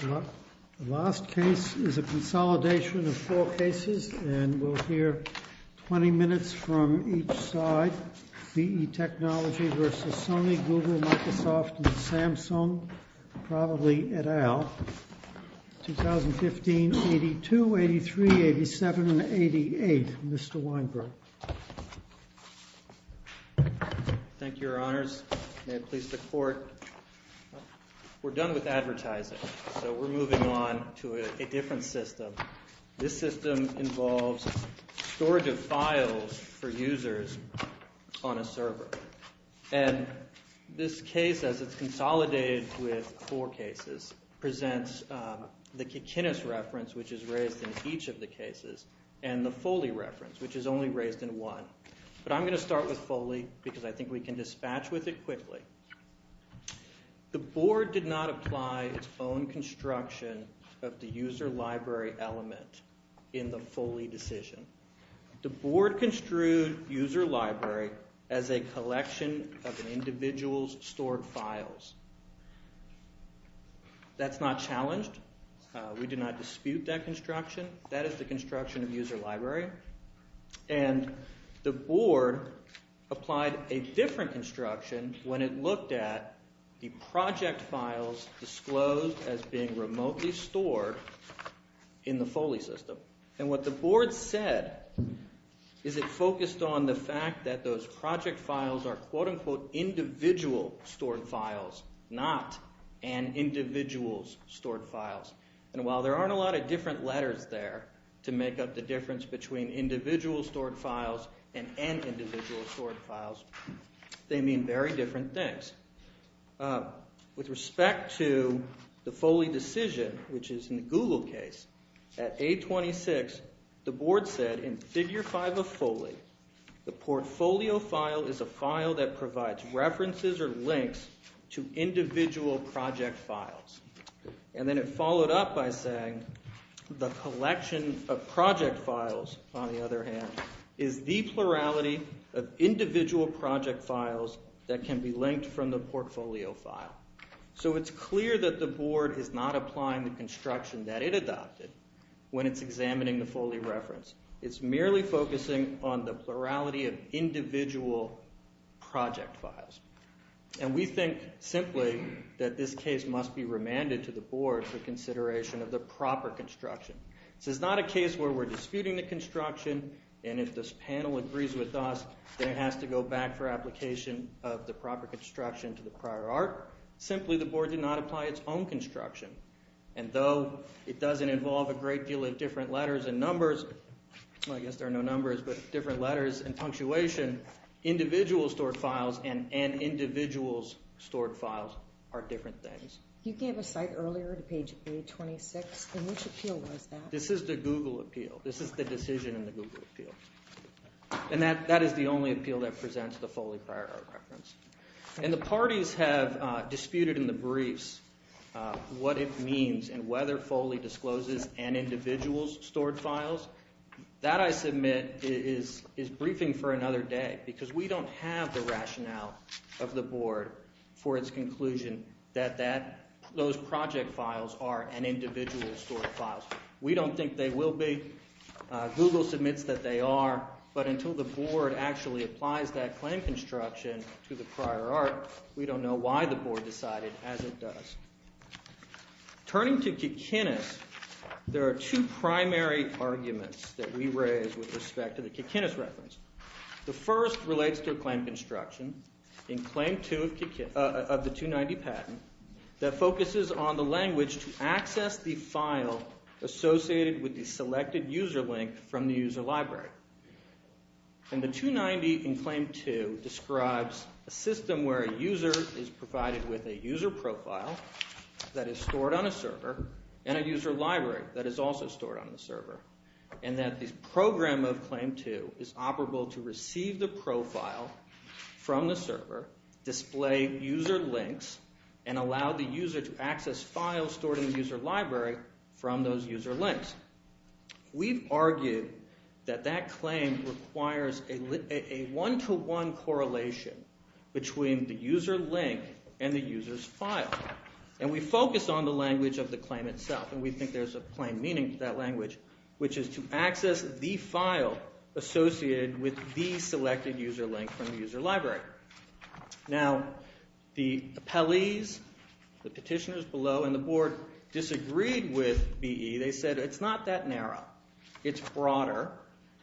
The last case is a consolidation of four cases, and we'll hear 20 minutes from each side, L.L.C. v. Sony Mobile Communications, Google, Microsoft, Samsung, and probably et al. 2015, 82, 83, 87, and 88. Mr. Weinberg. Thank you, Your Honors. May it please the Court. We're done with advertising, so we're moving on to a different system. This system involves storage of files for users on a server. And this case, as it's consolidated with four cases, presents the Kikinis reference, which is raised in each of the cases, and the Foley reference, which is only raised in one. But I'm going to start with Foley because I think we can dispatch with it quickly. The Board did not apply its own construction of the user library element in the Foley decision. The Board construed user library as a collection of an individual's stored files. That's not challenged. We do not dispute that construction. That is the construction of user library. And the Board applied a different construction when it looked at the project files disclosed as being remotely stored in the Foley system. And what the Board said is it focused on the fact that those project files are quote-unquote individual stored files, not an individual's stored files. And while there aren't a lot of different letters there to make up the difference between individual stored files and N individual stored files, they mean very different things. With respect to the Foley decision, which is in the Google case, at A26, the Board said in Figure 5 of Foley, the portfolio file is a file that provides references or links to individual project files. And then it followed up by saying the collection of project files, on the other hand, is the plurality of individual project files that can be linked from the portfolio file. So it's clear that the Board is not applying the construction that it adopted when it's examining the Foley reference. It's merely focusing on the plurality of individual project files. And we think simply that this case must be remanded to the Board for consideration of the proper construction. This is not a case where we're disputing the construction, and if this panel agrees with us, then it has to go back for application of the proper construction to the prior art. Simply, the Board did not apply its own construction. And though it doesn't involve a great deal of different letters and numbers, well I guess there are no numbers, but different letters and punctuation, individual stored files and N individual stored files are different things. You gave a cite earlier to page A26, and which appeal was that? This is the Google appeal. This is the decision in the Google appeal. And that is the only appeal that presents the Foley prior art reference. And the parties have disputed in the briefs what it means and whether Foley discloses N individuals stored files. That, I submit, is briefing for another day because we don't have the rationale of the Board for its conclusion that those project files are N individuals stored files. We don't think they will be. Google submits that they are, but until the Board actually applies that claim construction to the prior art, we don't know why the Board decided as it does. Turning to Kikinis, there are two primary arguments that we raise with respect to the Kikinis reference. The first relates to a claim construction in Claim 2 of the 290 patent that focuses on the language to access the file associated with the selected user link from the user library. And the 290 in Claim 2 describes a system where a user is provided with a user profile that is stored on a server and a user library that is also stored on the server. And that this program of Claim 2 is operable to receive the profile from the server, display user links, and allow the user to access files stored in the user library from those user links. In fact, we've argued that that claim requires a one-to-one correlation between the user link and the user's file. And we focus on the language of the claim itself, and we think there's a plain meaning to that language, which is to access the file associated with the selected user link from the user library. Now, the appellees, the petitioners below, and the board disagreed with BE. They said it's not that narrow. It's broader,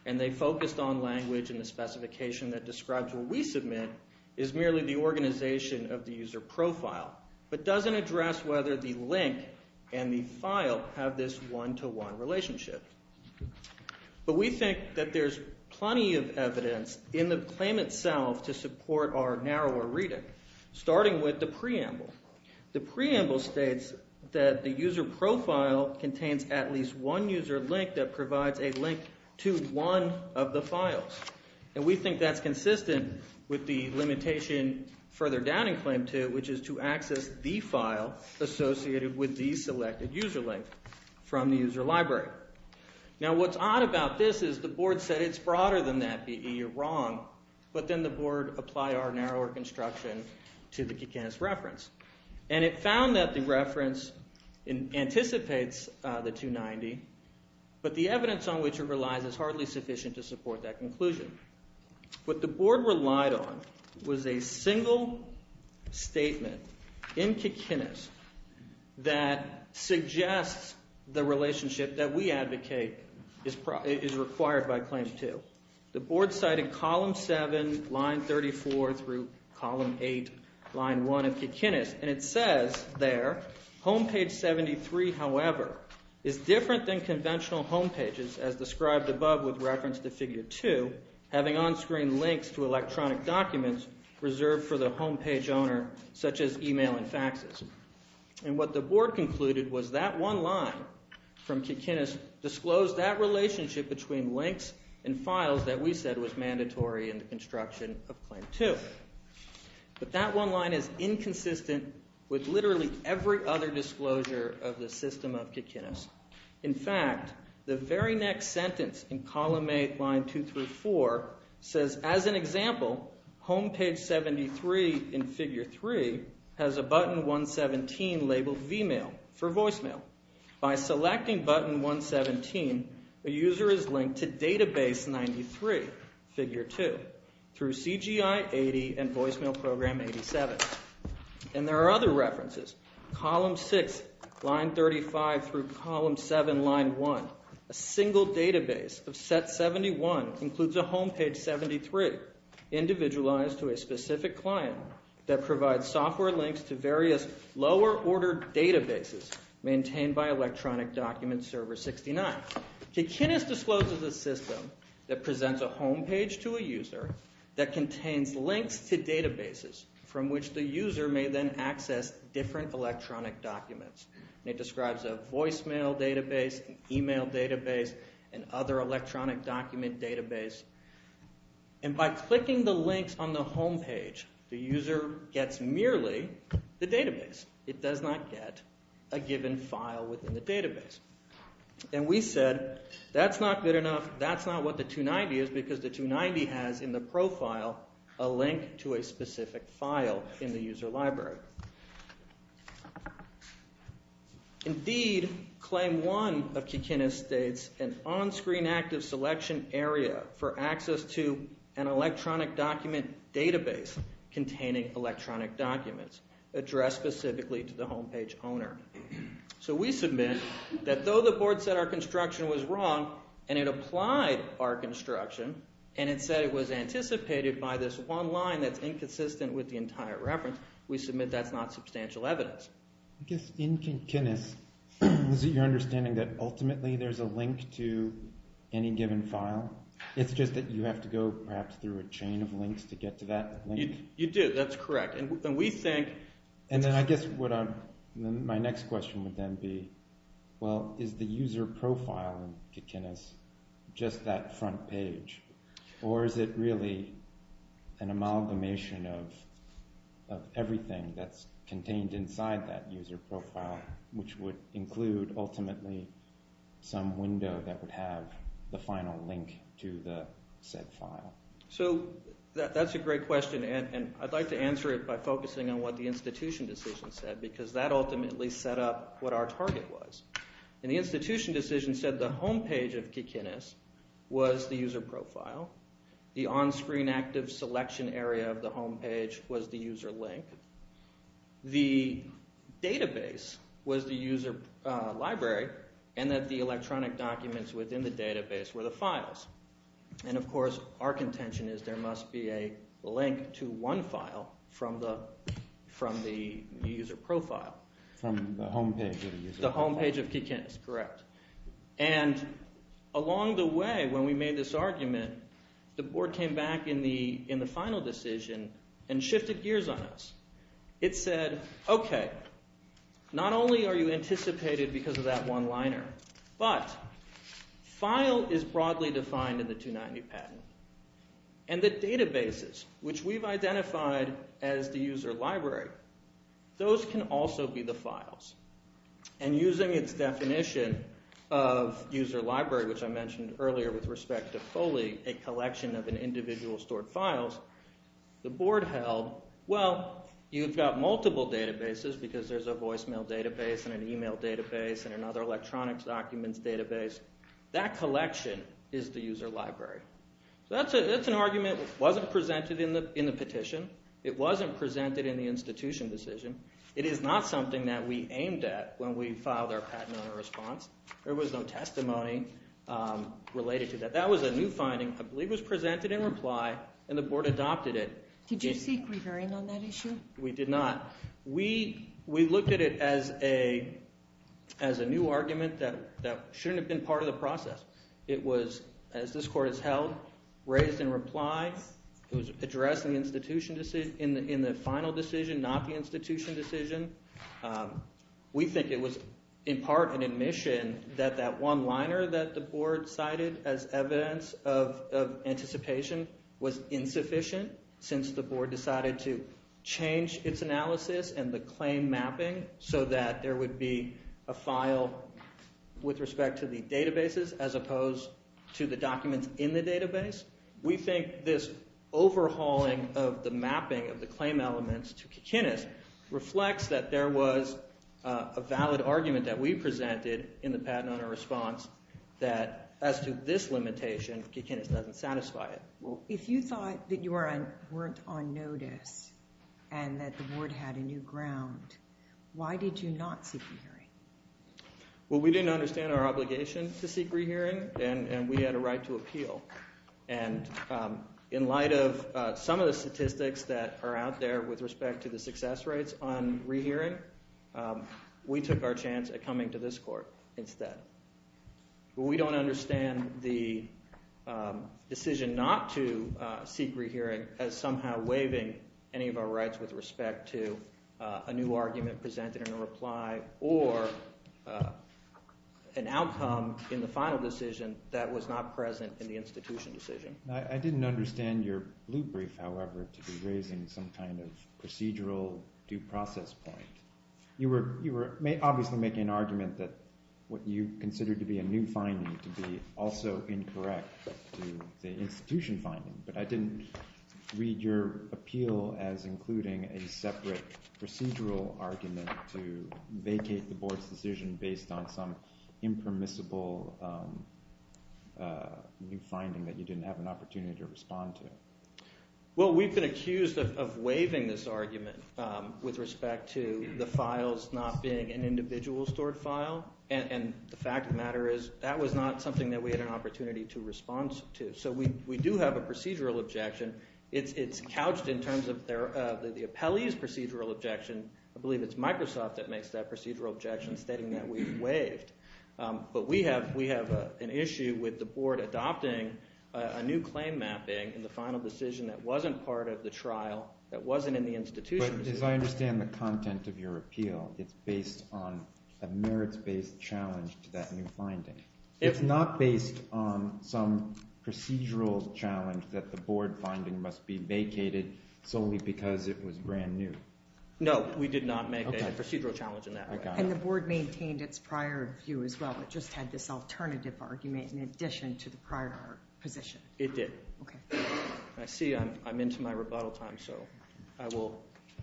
and they focused on language and the specification that describes what we submit is merely the organization of the user profile but doesn't address whether the link and the file have this one-to-one relationship. But we think that there's plenty of evidence in the claim itself to support our narrower reading, starting with the preamble. The preamble states that the user profile contains at least one user link that provides a link to one of the files. And we think that's consistent with the limitation further down in claim two, which is to access the file associated with the selected user link from the user library. Now, what's odd about this is the board said it's broader than that, BE. You're wrong. But then the board applied our narrower construction to the Kikanis reference. And it found that the reference anticipates the 290, but the evidence on which it relies is hardly sufficient to support that conclusion. What the board relied on was a single statement in Kikanis that suggests the relationship that we advocate is required by claim two. The board cited column 7, line 34 through column 8, line 1 of Kikanis, and it says there, Home page 73, however, is different than conventional home pages, as described above with reference to figure 2, having on-screen links to electronic documents reserved for the home page owner, such as email and faxes. And what the board concluded was that one line from Kikanis disclosed that relationship between links and files that we said was mandatory in the construction of claim two. But that one line is inconsistent with literally every other disclosure of the system of Kikanis. In fact, the very next sentence in column 8, line 2 through 4, says, as an example, Home page 73 in figure 3 has a button 117 labeled VMAIL for voicemail. By selecting button 117, a user is linked to database 93, figure 2, through CGI80 and voicemail program 87. And there are other references. Column 6, line 35 through column 7, line 1, a single database of set 71 includes a home page 73, individualized to a specific client that provides software links to various lower ordered databases maintained by electronic document server 69. Kikanis discloses a system that presents a home page to a user that contains links to databases from which the user may then access different electronic documents. It describes a voicemail database, an email database, and other electronic document database. And by clicking the links on the home page, the user gets merely the database. It does not get a given file within the database. And we said, that's not good enough. That's not what the 290 is because the 290 has in the profile a link to a specific file in the user library. Indeed, claim 1 of Kikanis states an on-screen active selection area for access to an electronic document database containing electronic documents addressed specifically to the home page owner. So we submit that though the board said our construction was wrong, and it applied our construction, and it said it was anticipated by this one line that's inconsistent with the entire reference, we submit that's not substantial evidence. I guess in Kikanis, is it your understanding that ultimately there's a link to any given file? It's just that you have to go perhaps through a chain of links to get to that link? You do, that's correct. And then I guess my next question would then be, well, is the user profile in Kikanis just that front page? Or is it really an amalgamation of everything that's contained inside that user profile, which would include ultimately some window that would have the final link to the said file? So that's a great question, and I'd like to answer it by focusing on what the institution decision said, because that ultimately set up what our target was. And the institution decision said the home page of Kikanis was the user profile, the on-screen active selection area of the home page was the user link, the database was the user library, and that the electronic documents within the database were the files. And of course our contention is there must be a link to one file from the user profile. From the home page of the user profile. The home page of Kikanis, correct. And along the way when we made this argument, the board came back in the final decision and shifted gears on us. It said, okay, not only are you anticipated because of that one liner, but file is broadly defined in the 290 patent. And the databases, which we've identified as the user library, those can also be the files. And using its definition of user library, which I mentioned earlier with respect to Foley, a collection of an individual stored files, the board held, well, you've got multiple databases because there's a voicemail database and an email database and another electronic documents database. That collection is the user library. So that's an argument that wasn't presented in the petition. It wasn't presented in the institution decision. It is not something that we aimed at when we filed our patent owner response. There was no testimony related to that. That was a new finding. I believe it was presented in reply, and the board adopted it. Did you seek re-hearing on that issue? We did not. We looked at it as a new argument that shouldn't have been part of the process. It was, as this court has held, raised in reply. It was addressed in the final decision, not the institution decision. We think it was in part an admission that that one liner that the board cited as evidence of anticipation was insufficient since the board decided to change its analysis and the claim mapping so that there would be a file with respect to the databases as opposed to the documents in the database. We think this overhauling of the mapping of the claim elements to Kikinis reflects that there was a valid argument that we presented in the patent owner response that as to this limitation, Kikinis doesn't satisfy it. If you thought that you weren't on notice and that the board had a new ground, why did you not seek re-hearing? Well, we didn't understand our obligation to seek re-hearing, and we had a right to appeal. And in light of some of the statistics that are out there with respect to the success rates on re-hearing, we took our chance at coming to this court instead. We don't understand the decision not to seek re-hearing as somehow waiving any of our rights with respect to a new argument presented in a reply or an outcome in the final decision that was not present in the institution decision. I didn't understand your blue brief, however, to be raising some kind of procedural due process point. You were obviously making an argument that what you considered to be a new finding to be also incorrect to the institution finding, but I didn't read your appeal as including a separate procedural argument to vacate the board's decision based on some impermissible new finding that you didn't have an opportunity to respond to. Well, we've been accused of waiving this argument with respect to the files not being an individual stored file, and the fact of the matter is that was not something that we had an opportunity to respond to. So we do have a procedural objection. It's couched in terms of the appellee's procedural objection. I believe it's Microsoft that makes that procedural objection, stating that we've waived. But we have an issue with the board adopting a new claim mapping in the final decision that wasn't part of the trial, that wasn't in the institution decision. But as I understand the content of your appeal, it's based on a merits-based challenge to that new finding. It's not based on some procedural challenge that the board finding must be vacated solely because it was brand new. No, we did not make a procedural challenge in that way. And the board maintained its prior view as well, but just had this alternative argument in addition to the prior position. It did. Okay. I see I'm into my rebuttal time, so I will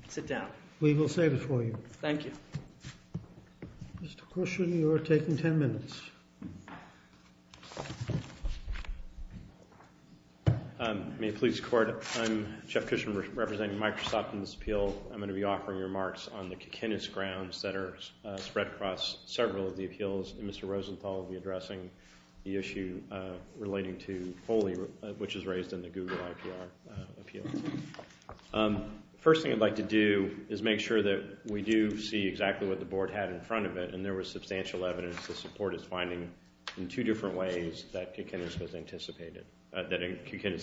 sit down. We will save it for you. Thank you. Mr. Cushion, you are taking 10 minutes. May it please the court, I'm Jeff Cushion representing Microsoft in this appeal. I'm going to be offering remarks on the Kikinis grounds that are spread across several of the appeals, and Mr. Rosenthal will be addressing the issue relating to Foley, which is raised in the Google IPR appeal. First thing I'd like to do is make sure that we do see exactly what the board had in front of it, and there was substantial evidence the support is finding in two different ways that Kikinis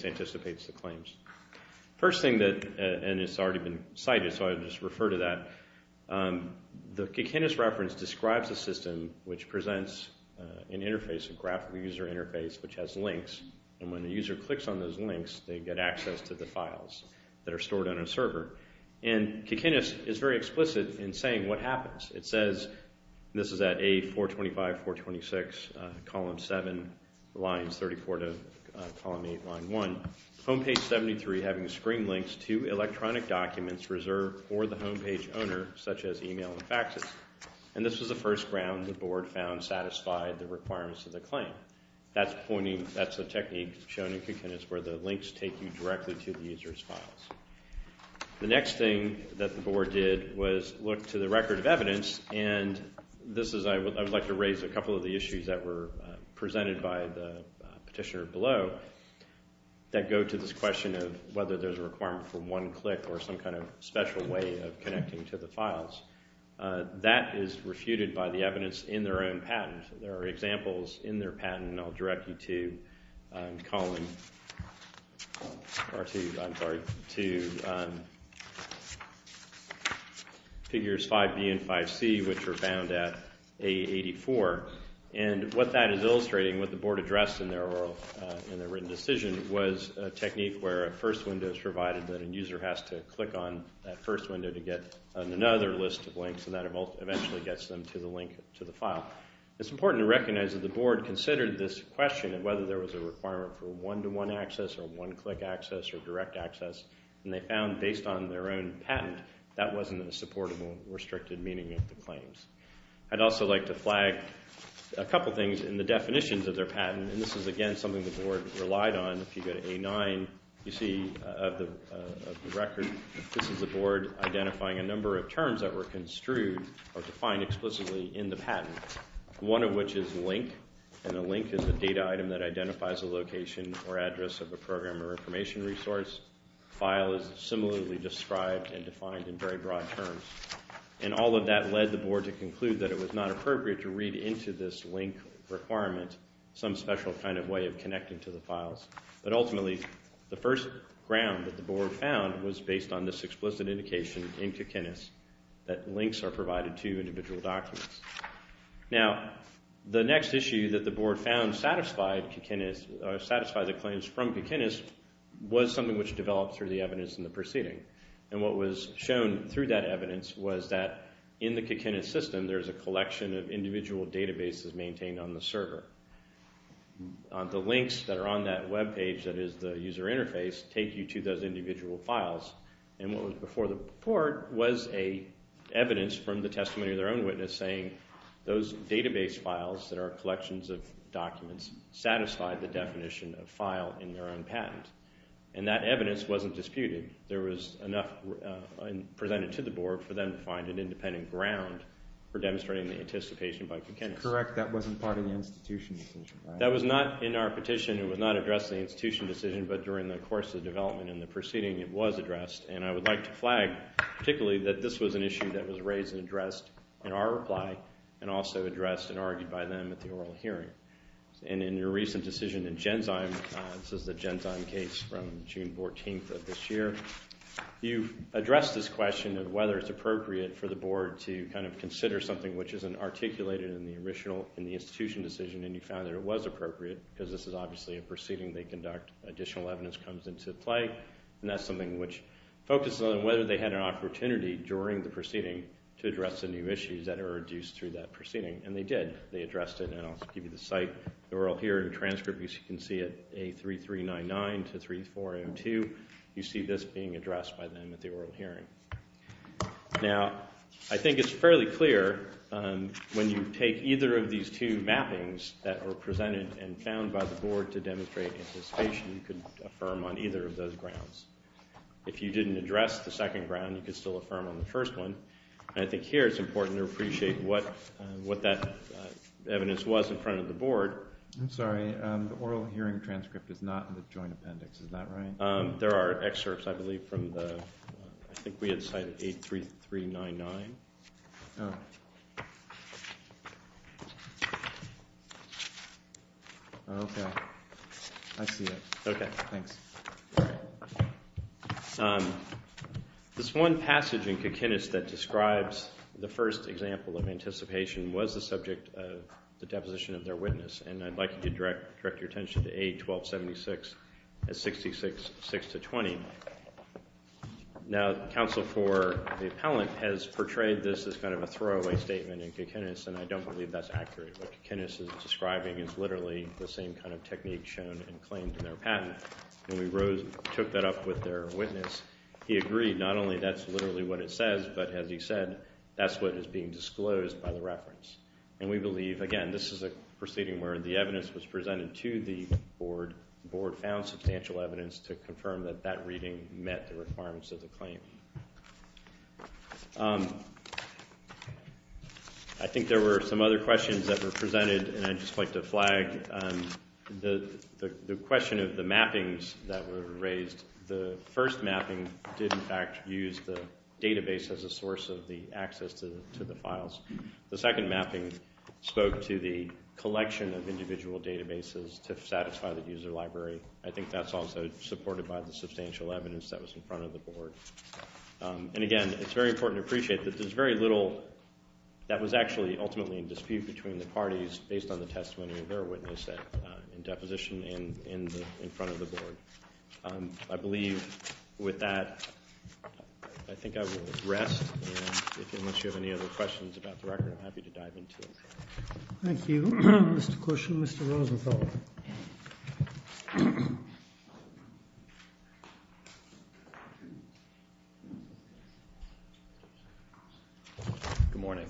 anticipates the claims. First thing that, and it's already been cited, so I'll just refer to that. The Kikinis reference describes a system which presents an interface, a graphical user interface, which has links. And when the user clicks on those links, they get access to the files that are stored on a server. And Kikinis is very explicit in saying what happens. It says, this is at A425, 426, column 7, lines 34 to column 8, line 1. Home page 73 having screen links to electronic documents reserved for the home page owner, such as email and faxes. And this was the first ground the board found satisfied the requirements of the claim. That's a technique shown in Kikinis where the links take you directly to the user's files. The next thing that the board did was look to the record of evidence, and this is, I would like to raise a couple of the issues that were presented by the petitioner below, that go to this question of whether there's a requirement for one click or some kind of special way of connecting to the files. That is refuted by the evidence in their own patent. There are examples in their patent, and I'll direct you to column 2, figures 5B and 5C, which were found at A84. And what that is illustrating, what the board addressed in their written decision, was a technique where a first window is provided that a user has to click on that first window to get another list of links, and that eventually gets them to the link to the file. It's important to recognize that the board considered this question of whether there was a requirement for one-to-one access or one-click access or direct access, and they found, based on their own patent, that wasn't a supportable, restricted meaning of the claims. I'd also like to flag a couple things in the definitions of their patent, and this is, again, something the board relied on. If you go to A9, you see of the record, this is the board identifying a number of terms that were construed or defined explicitly in the patent, one of which is link, and a link is a data item that identifies a location or address of a program or information resource. File is similarly described and defined in very broad terms. And all of that led the board to conclude that it was not appropriate to read into this link requirement some special kind of way of connecting to the files. But ultimately, the first ground that the board found was based on this explicit indication in Kikinis that links are provided to individual documents. Now, the next issue that the board found satisfied Kikinis, or satisfied the claims from Kikinis, was something which developed through the evidence in the proceeding. And what was shown through that evidence was that in the Kikinis system, there's a collection of individual databases maintained on the server. The links that are on that web page that is the user interface take you to those individual files. And what was before the report was evidence from the testimony of their own witness saying those database files that are collections of documents satisfy the definition of file in their own patent. And that evidence wasn't disputed. There was enough presented to the board for them to find an independent ground for demonstrating the anticipation by Kikinis. Correct, that wasn't part of the institution decision, right? That was not in our petition. It was not addressed in the institution decision, but during the course of development in the proceeding, it was addressed. And I would like to flag particularly that this was an issue that was raised and addressed in our reply, and also addressed and argued by them at the oral hearing. And in your recent decision in Genzyme, this is the Genzyme case from June 14th of this year, you addressed this question of whether it's appropriate for the board to kind of consider something which isn't articulated in the original, in the institution decision, and you found that it was appropriate because this is obviously a proceeding they conduct, additional evidence comes into play, and that's something which focuses on whether they had an opportunity during the proceeding to address the new issues that are reduced through that proceeding. And they did, they addressed it, and I'll give you the site, the oral hearing transcript, you can see it, A3399 to 34M2, you see this being addressed by them at the oral hearing. Now, I think it's fairly clear when you take either of these two mappings that were presented and found by the board to demonstrate anticipation, you could affirm on either of those grounds. If you didn't address the second ground, you could still affirm on the first one. And I think here it's important to appreciate what that evidence was in front of the board. I'm sorry, the oral hearing transcript is not in the joint appendix, is that right? There are excerpts, I believe, from the, I think we had site A3399. Oh. Okay. I see it. Okay. Thanks. All right. This one passage in Kikinis that describes the first example of anticipation was the subject of the deposition of their witness, and I'd like you to direct your attention to A1276 at 66-6-20. Now, counsel for the appellant has portrayed this as kind of a throwaway statement in Kikinis, and I don't believe that's accurate. What Kikinis is describing is literally the same kind of technique shown in claims in their patent, and we took that up with their witness. He agreed not only that's literally what it says, but as he said, that's what is being disclosed by the reference. And we believe, again, this is a proceeding where the evidence was presented to the board. The board found substantial evidence to confirm that that reading met the requirements of the claim. I think there were some other questions that were presented, and I'd just like to flag the question of the mappings that were raised. The first mapping did, in fact, use the database as a source of the access to the files. The second mapping spoke to the collection of individual databases to satisfy the user library. I think that's also supported by the substantial evidence that was in front of the board. And, again, it's very important to appreciate that there's very little that was actually ultimately in dispute between the parties based on the testimony of their witness in deposition in front of the board. I believe with that, I think I will rest. And unless you have any other questions about the record, I'm happy to dive into it. Thank you. Mr. Cush and Mr. Rosenthal. Good morning.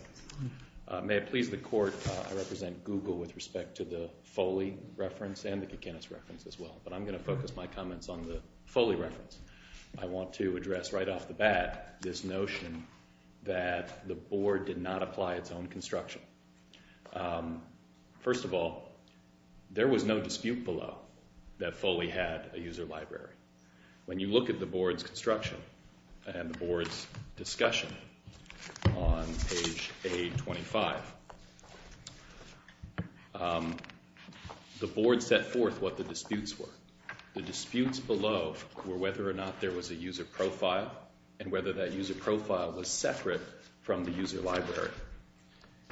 May it please the court, I represent Google with respect to the Foley reference and the Kikinis reference as well, but I'm going to focus my comments on the Foley reference. I want to address right off the bat this notion that the board did not apply its own construction. First of all, there was no dispute below that Foley had a user library. When you look at the board's construction and the board's discussion on page A25, the board set forth what the disputes were. The disputes below were whether or not there was a user profile and whether that user profile was separate from the user library.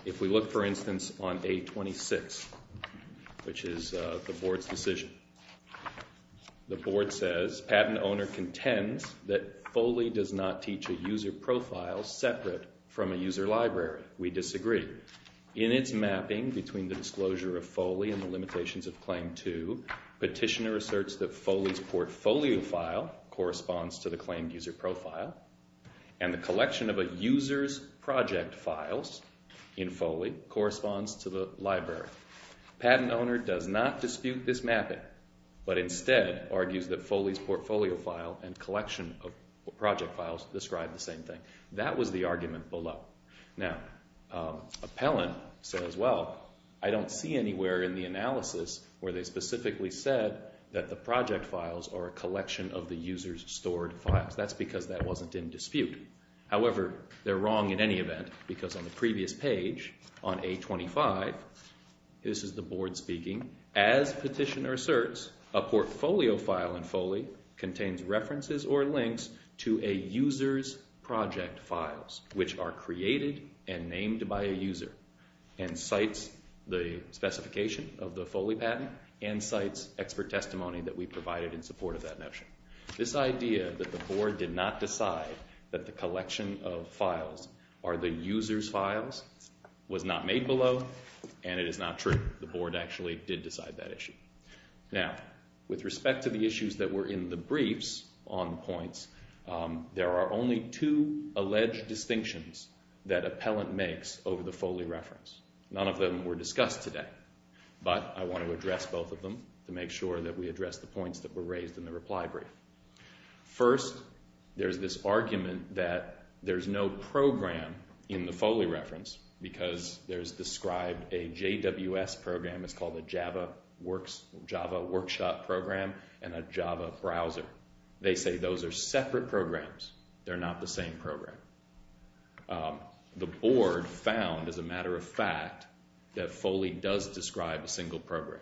If we look, for instance, on A26, which is the board's decision, the board says, Patent owner contends that Foley does not teach a user profile separate from a user library. We disagree. In its mapping between the disclosure of Foley and the limitations of Claim 2, Petitioner asserts that Foley's portfolio file corresponds to the claimed user profile, and the collection of a user's project files in Foley corresponds to the library. Patent owner does not dispute this mapping, but instead argues that Foley's portfolio file and collection of project files describe the same thing. That was the argument below. Now, Appellant says, well, I don't see anywhere in the analysis where they specifically said that the project files are a collection of the user's stored files. That's because that wasn't in dispute. However, they're wrong in any event, because on the previous page, on A25, this is the board speaking, As Petitioner asserts, a portfolio file in Foley contains references or links to a user's project files, which are created and named by a user, and cites the specification of the Foley patent, and cites expert testimony that we provided in support of that notion. This idea that the board did not decide that the collection of files are the user's files was not made below, and it is not true. The board actually did decide that issue. Now, with respect to the issues that were in the briefs on the points, there are only two alleged distinctions that Appellant makes over the Foley reference. None of them were discussed today, but I want to address both of them to make sure that we address the points that were raised in the reply brief. First, there's this argument that there's no program in the Foley reference, because there's described a JWS program, it's called a Java Workshop Program, and a Java Browser. They say those are separate programs. They're not the same program. The board found, as a matter of fact, that Foley does describe a single program.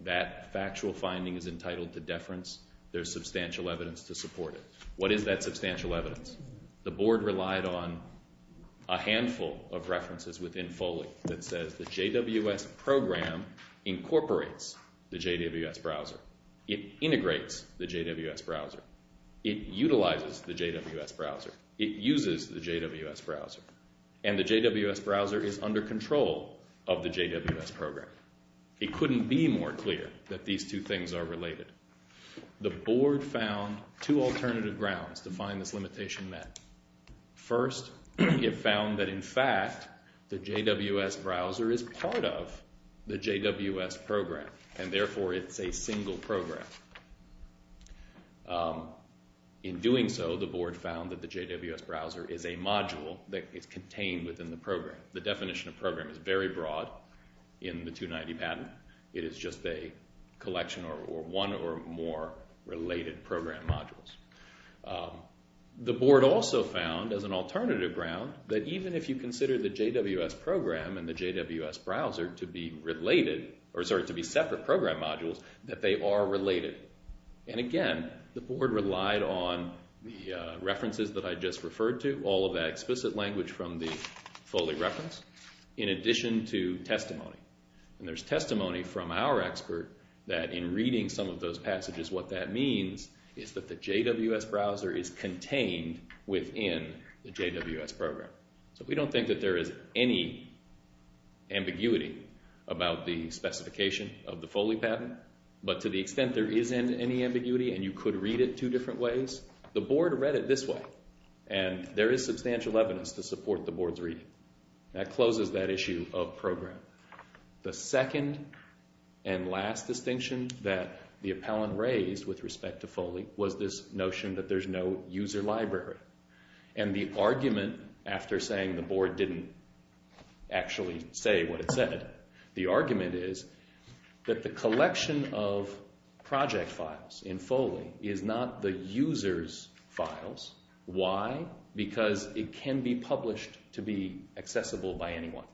That factual finding is entitled to deference. There's substantial evidence to support it. What is that substantial evidence? The board relied on a handful of references within Foley that says the JWS program incorporates the JWS browser. It integrates the JWS browser. It utilizes the JWS browser. It uses the JWS browser. And the JWS browser is under control of the JWS program. It couldn't be more clear that these two things are related. The board found two alternative grounds to find this limitation met. First, it found that, in fact, the JWS browser is part of the JWS program, and therefore it's a single program. In doing so, the board found that the JWS browser is a module that is contained within the program. The definition of program is very broad in the 290 patent. It is just a collection or one or more related program modules. The board also found, as an alternative ground, that even if you consider the JWS program and the JWS browser to be separate program modules, that they are related. And again, the board relied on the references that I just referred to, all of that explicit language from the Foley reference, in addition to testimony. And there's testimony from our expert that, in reading some of those passages, what that means is that the JWS browser is contained within the JWS program. So we don't think that there is any ambiguity about the specification of the Foley patent. But to the extent there is any ambiguity and you could read it two different ways, the board read it this way, and there is substantial evidence to support the board's reading. That closes that issue of program. The second and last distinction that the appellant raised with respect to Foley was this notion that there's no user library. And the argument, after saying the board didn't actually say what it said, the argument is that the collection of project files in Foley is not the user's files. Why? Because it can be published to be accessible by anyone.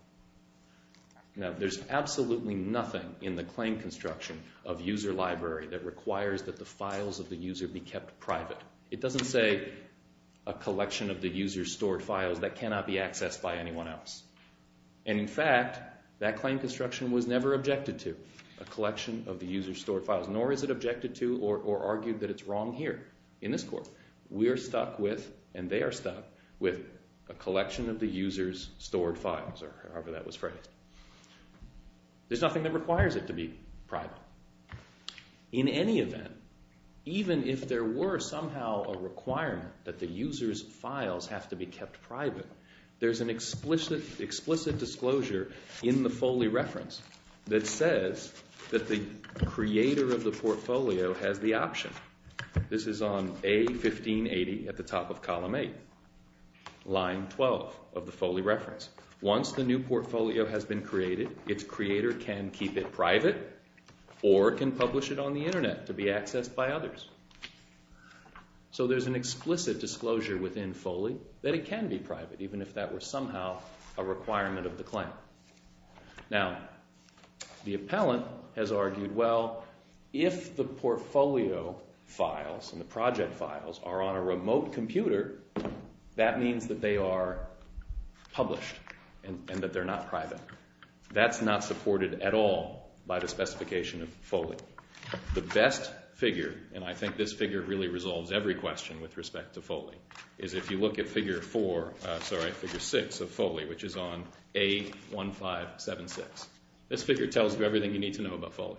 Now, there's absolutely nothing in the claim construction of user library that requires that the files of the user be kept private. It doesn't say a collection of the user's stored files that cannot be accessed by anyone else. And in fact, that claim construction was never objected to. A collection of the user's stored files. Nor is it objected to or argued that it's wrong here in this court. We are stuck with, and they are stuck with, a collection of the user's stored files, or however that was phrased. There's nothing that requires it to be private. In any event, even if there were somehow a requirement that the user's files have to be kept private, there's an explicit disclosure in the Foley reference that says that the creator of the portfolio has the option. This is on A1580 at the top of column 8, line 12 of the Foley reference. Once the new portfolio has been created, its creator can keep it private or can publish it on the internet to be accessed by others. So there's an explicit disclosure within Foley that it can be private, even if that were somehow a requirement of the claim. Now, the appellant has argued, well, if the portfolio files and the project files are on a remote computer, that means that they are published and that they're not private. That's not supported at all by the specification of Foley. The best figure, and I think this figure really resolves every question with respect to Foley, is if you look at figure 6 of Foley, which is on A1576. This figure tells you everything you need to know about Foley.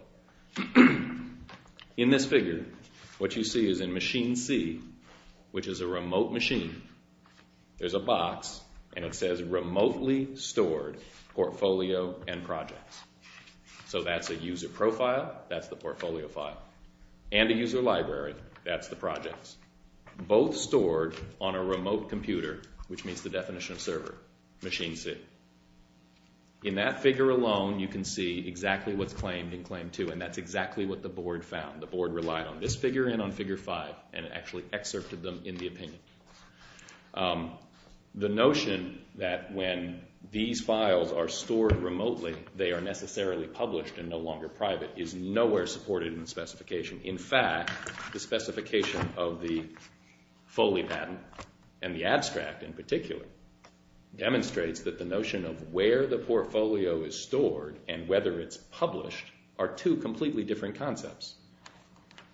In this figure, what you see is in machine C, which is a remote machine, there's a box, and it says remotely stored portfolio and projects. So that's a user profile. That's the portfolio file. And a user library. That's the projects. Both stored on a remote computer, which meets the definition of server, machine C. In that figure alone, you can see exactly what's claimed in claim 2, and that's exactly what the board found. The board relied on this figure and on figure 5 and actually excerpted them in the opinion. The notion that when these files are stored remotely, they are necessarily published and no longer private is nowhere supported in the specification. In fact, the specification of the Foley patent and the abstract in particular demonstrates that the notion of where the portfolio is stored and whether it's published are two completely different concepts.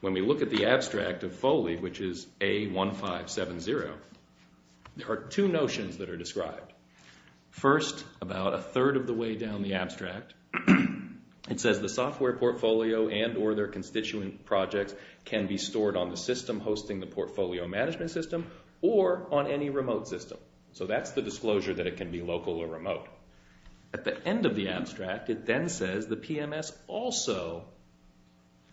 When we look at the abstract of Foley, which is A1570, there are two notions that are described. First, about a third of the way down the abstract, it says the software portfolio and or their constituent projects can be stored on the system hosting the portfolio management system or on any remote system. So that's the disclosure that it can be local or remote. At the end of the abstract, it then says the PMS also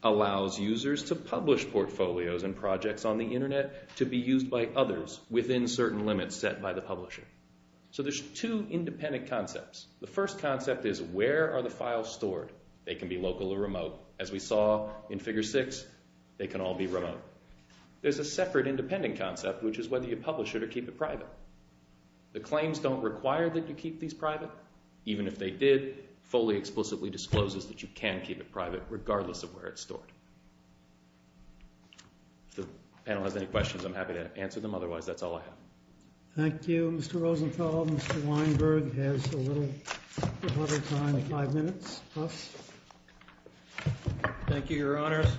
allows users to publish portfolios and projects on the Internet to be used by others within certain limits set by the publisher. So there's two independent concepts. The first concept is where are the files stored? They can be local or remote. As we saw in figure 6, they can all be remote. There's a separate independent concept, which is whether you publish it or keep it private. The claims don't require that you keep these private. Even if they did, Foley explicitly discloses that you can keep it private regardless of where it's stored. If the panel has any questions, I'm happy to answer them. Otherwise, that's all I have. Thank you, Mr. Rosenthal. Mr. Weinberg has a little time, five minutes plus. Thank you, Your Honors.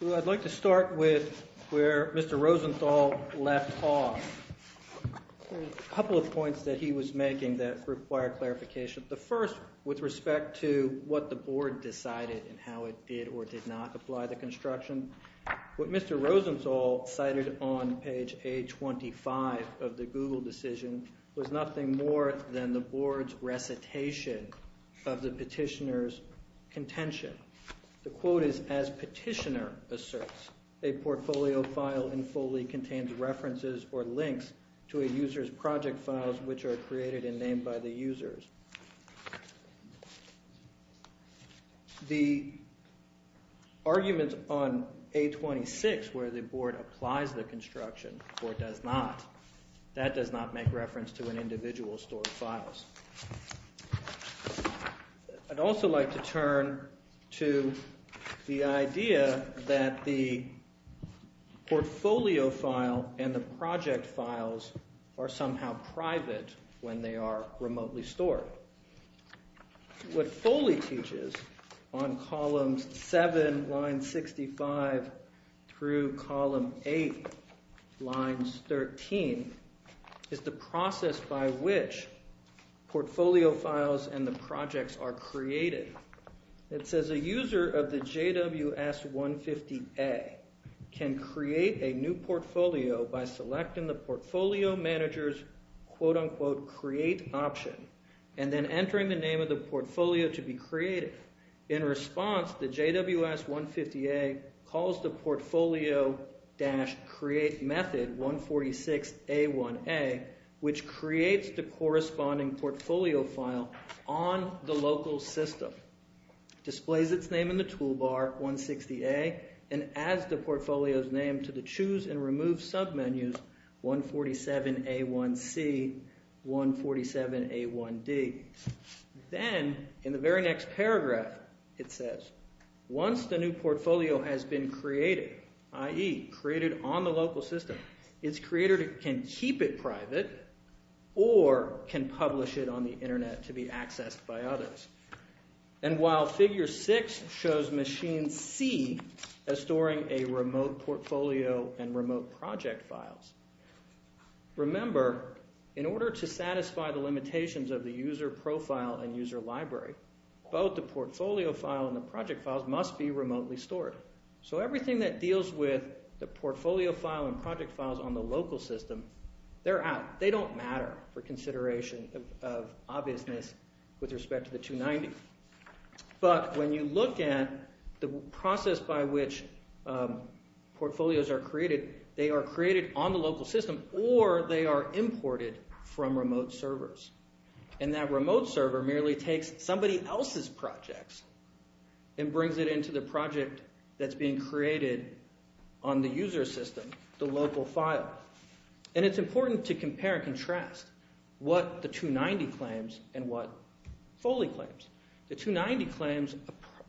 So I'd like to start with where Mr. Rosenthal left off. There were a couple of points that he was making that required clarification. The first, with respect to what the board decided and how it did or did not apply the construction, what Mr. Rosenthal cited on page A25 of the Google decision was nothing more than the board's recitation of the petitioner's contention. The quote is, as petitioner asserts, a portfolio file in Foley contains references or links to a user's project files, which are created and named by the users. The arguments on A26, where the board applies the construction or does not, that does not make reference to an individual's stored files. I'd also like to turn to the idea that the portfolio file and the project files are somehow private when they are remotely stored. What Foley teaches on columns 7, line 65, through column 8, lines 13, is the process by which portfolio files and the projects are created. It says a user of the JWS150A can create a new portfolio by selecting the portfolio manager's quote-unquote create option and then entering the name of the portfolio to be created. In response, the JWS150A calls the portfolio-create method 146A1A, which creates the corresponding portfolio file on the local system, displays its name in the toolbar, and adds the portfolio's name to the choose and remove submenus 147A1C, 147A1D. Then, in the very next paragraph, it says, once the new portfolio has been created, i.e., created on the local system, its creator can keep it private or can publish it on the internet to be accessed by others. And while figure 6 shows machine C as storing a remote portfolio and remote project files, remember, in order to satisfy the limitations of the user profile and user library, both the portfolio file and the project files must be remotely stored. So everything that deals with the portfolio file and project files on the local system, they're out. They don't matter for consideration of obviousness with respect to the 290. But when you look at the process by which portfolios are created, they are created on the local system or they are imported from remote servers. And that remote server merely takes somebody else's projects and brings it into the project that's being created on the user system, the local file. And it's important to compare and contrast what the 290 claims and what Foley claims. The 290 claims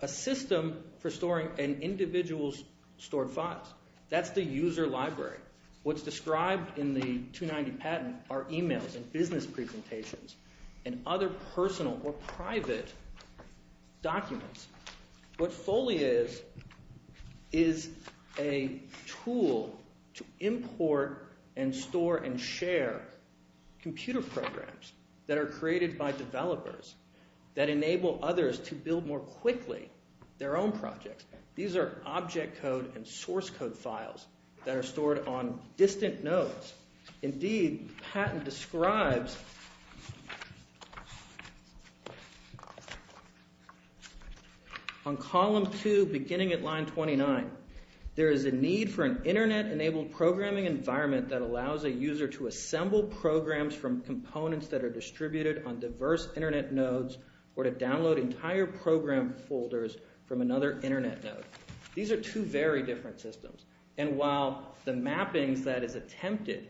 a system for storing an individual's stored files. That's the user library. What's described in the 290 patent are e-mails and business presentations and other personal or private documents. What Foley is is a tool to import and store and share computer programs that are created by developers that enable others to build more quickly their own projects. These are object code and source code files that are stored on distant nodes. Indeed, the patent describes on column 2 beginning at line 29, there is a need for an internet-enabled programming environment that allows a user to assemble programs from components that are distributed on diverse internet nodes or to download entire program folders from another internet node. These are two very different systems. And while the mappings that is attempted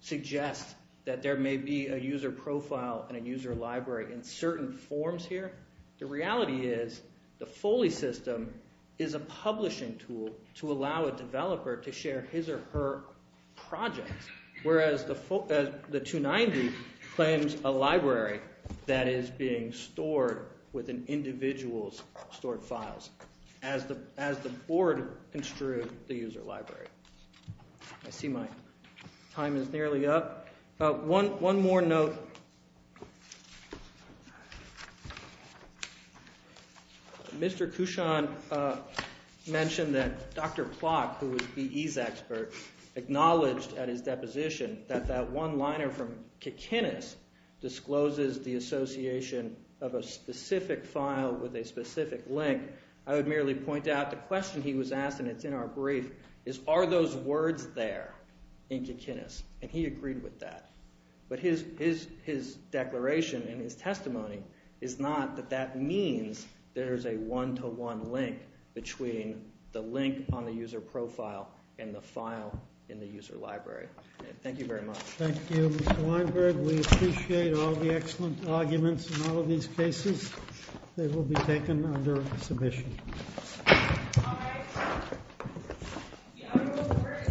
suggest that there may be a user profile and a user library in certain forms here, the reality is the Foley system is a publishing tool to allow a developer to share his or her projects. Whereas the 290 claims a library that is being stored with an individual's stored files. As the board construed the user library. I see my time is nearly up. One more note. Mr. Cushon mentioned that Dr. Plot, who is BE's expert, acknowledged at his deposition that that one liner from Kikinis discloses the association of a specific file with a specific link. I would merely point out the question he was asked, and it's in our brief, is are those words there in Kikinis? And he agreed with that. But his declaration and his testimony is not that that means there is a one-to-one link between the link on the user profile and the file in the user library. Thank you very much. Thank you, Mr. Weinberg. We appreciate all the excellent arguments in all of these cases. They will be taken under submission. All right. The honorable court is adjourned because of ground rules at today's.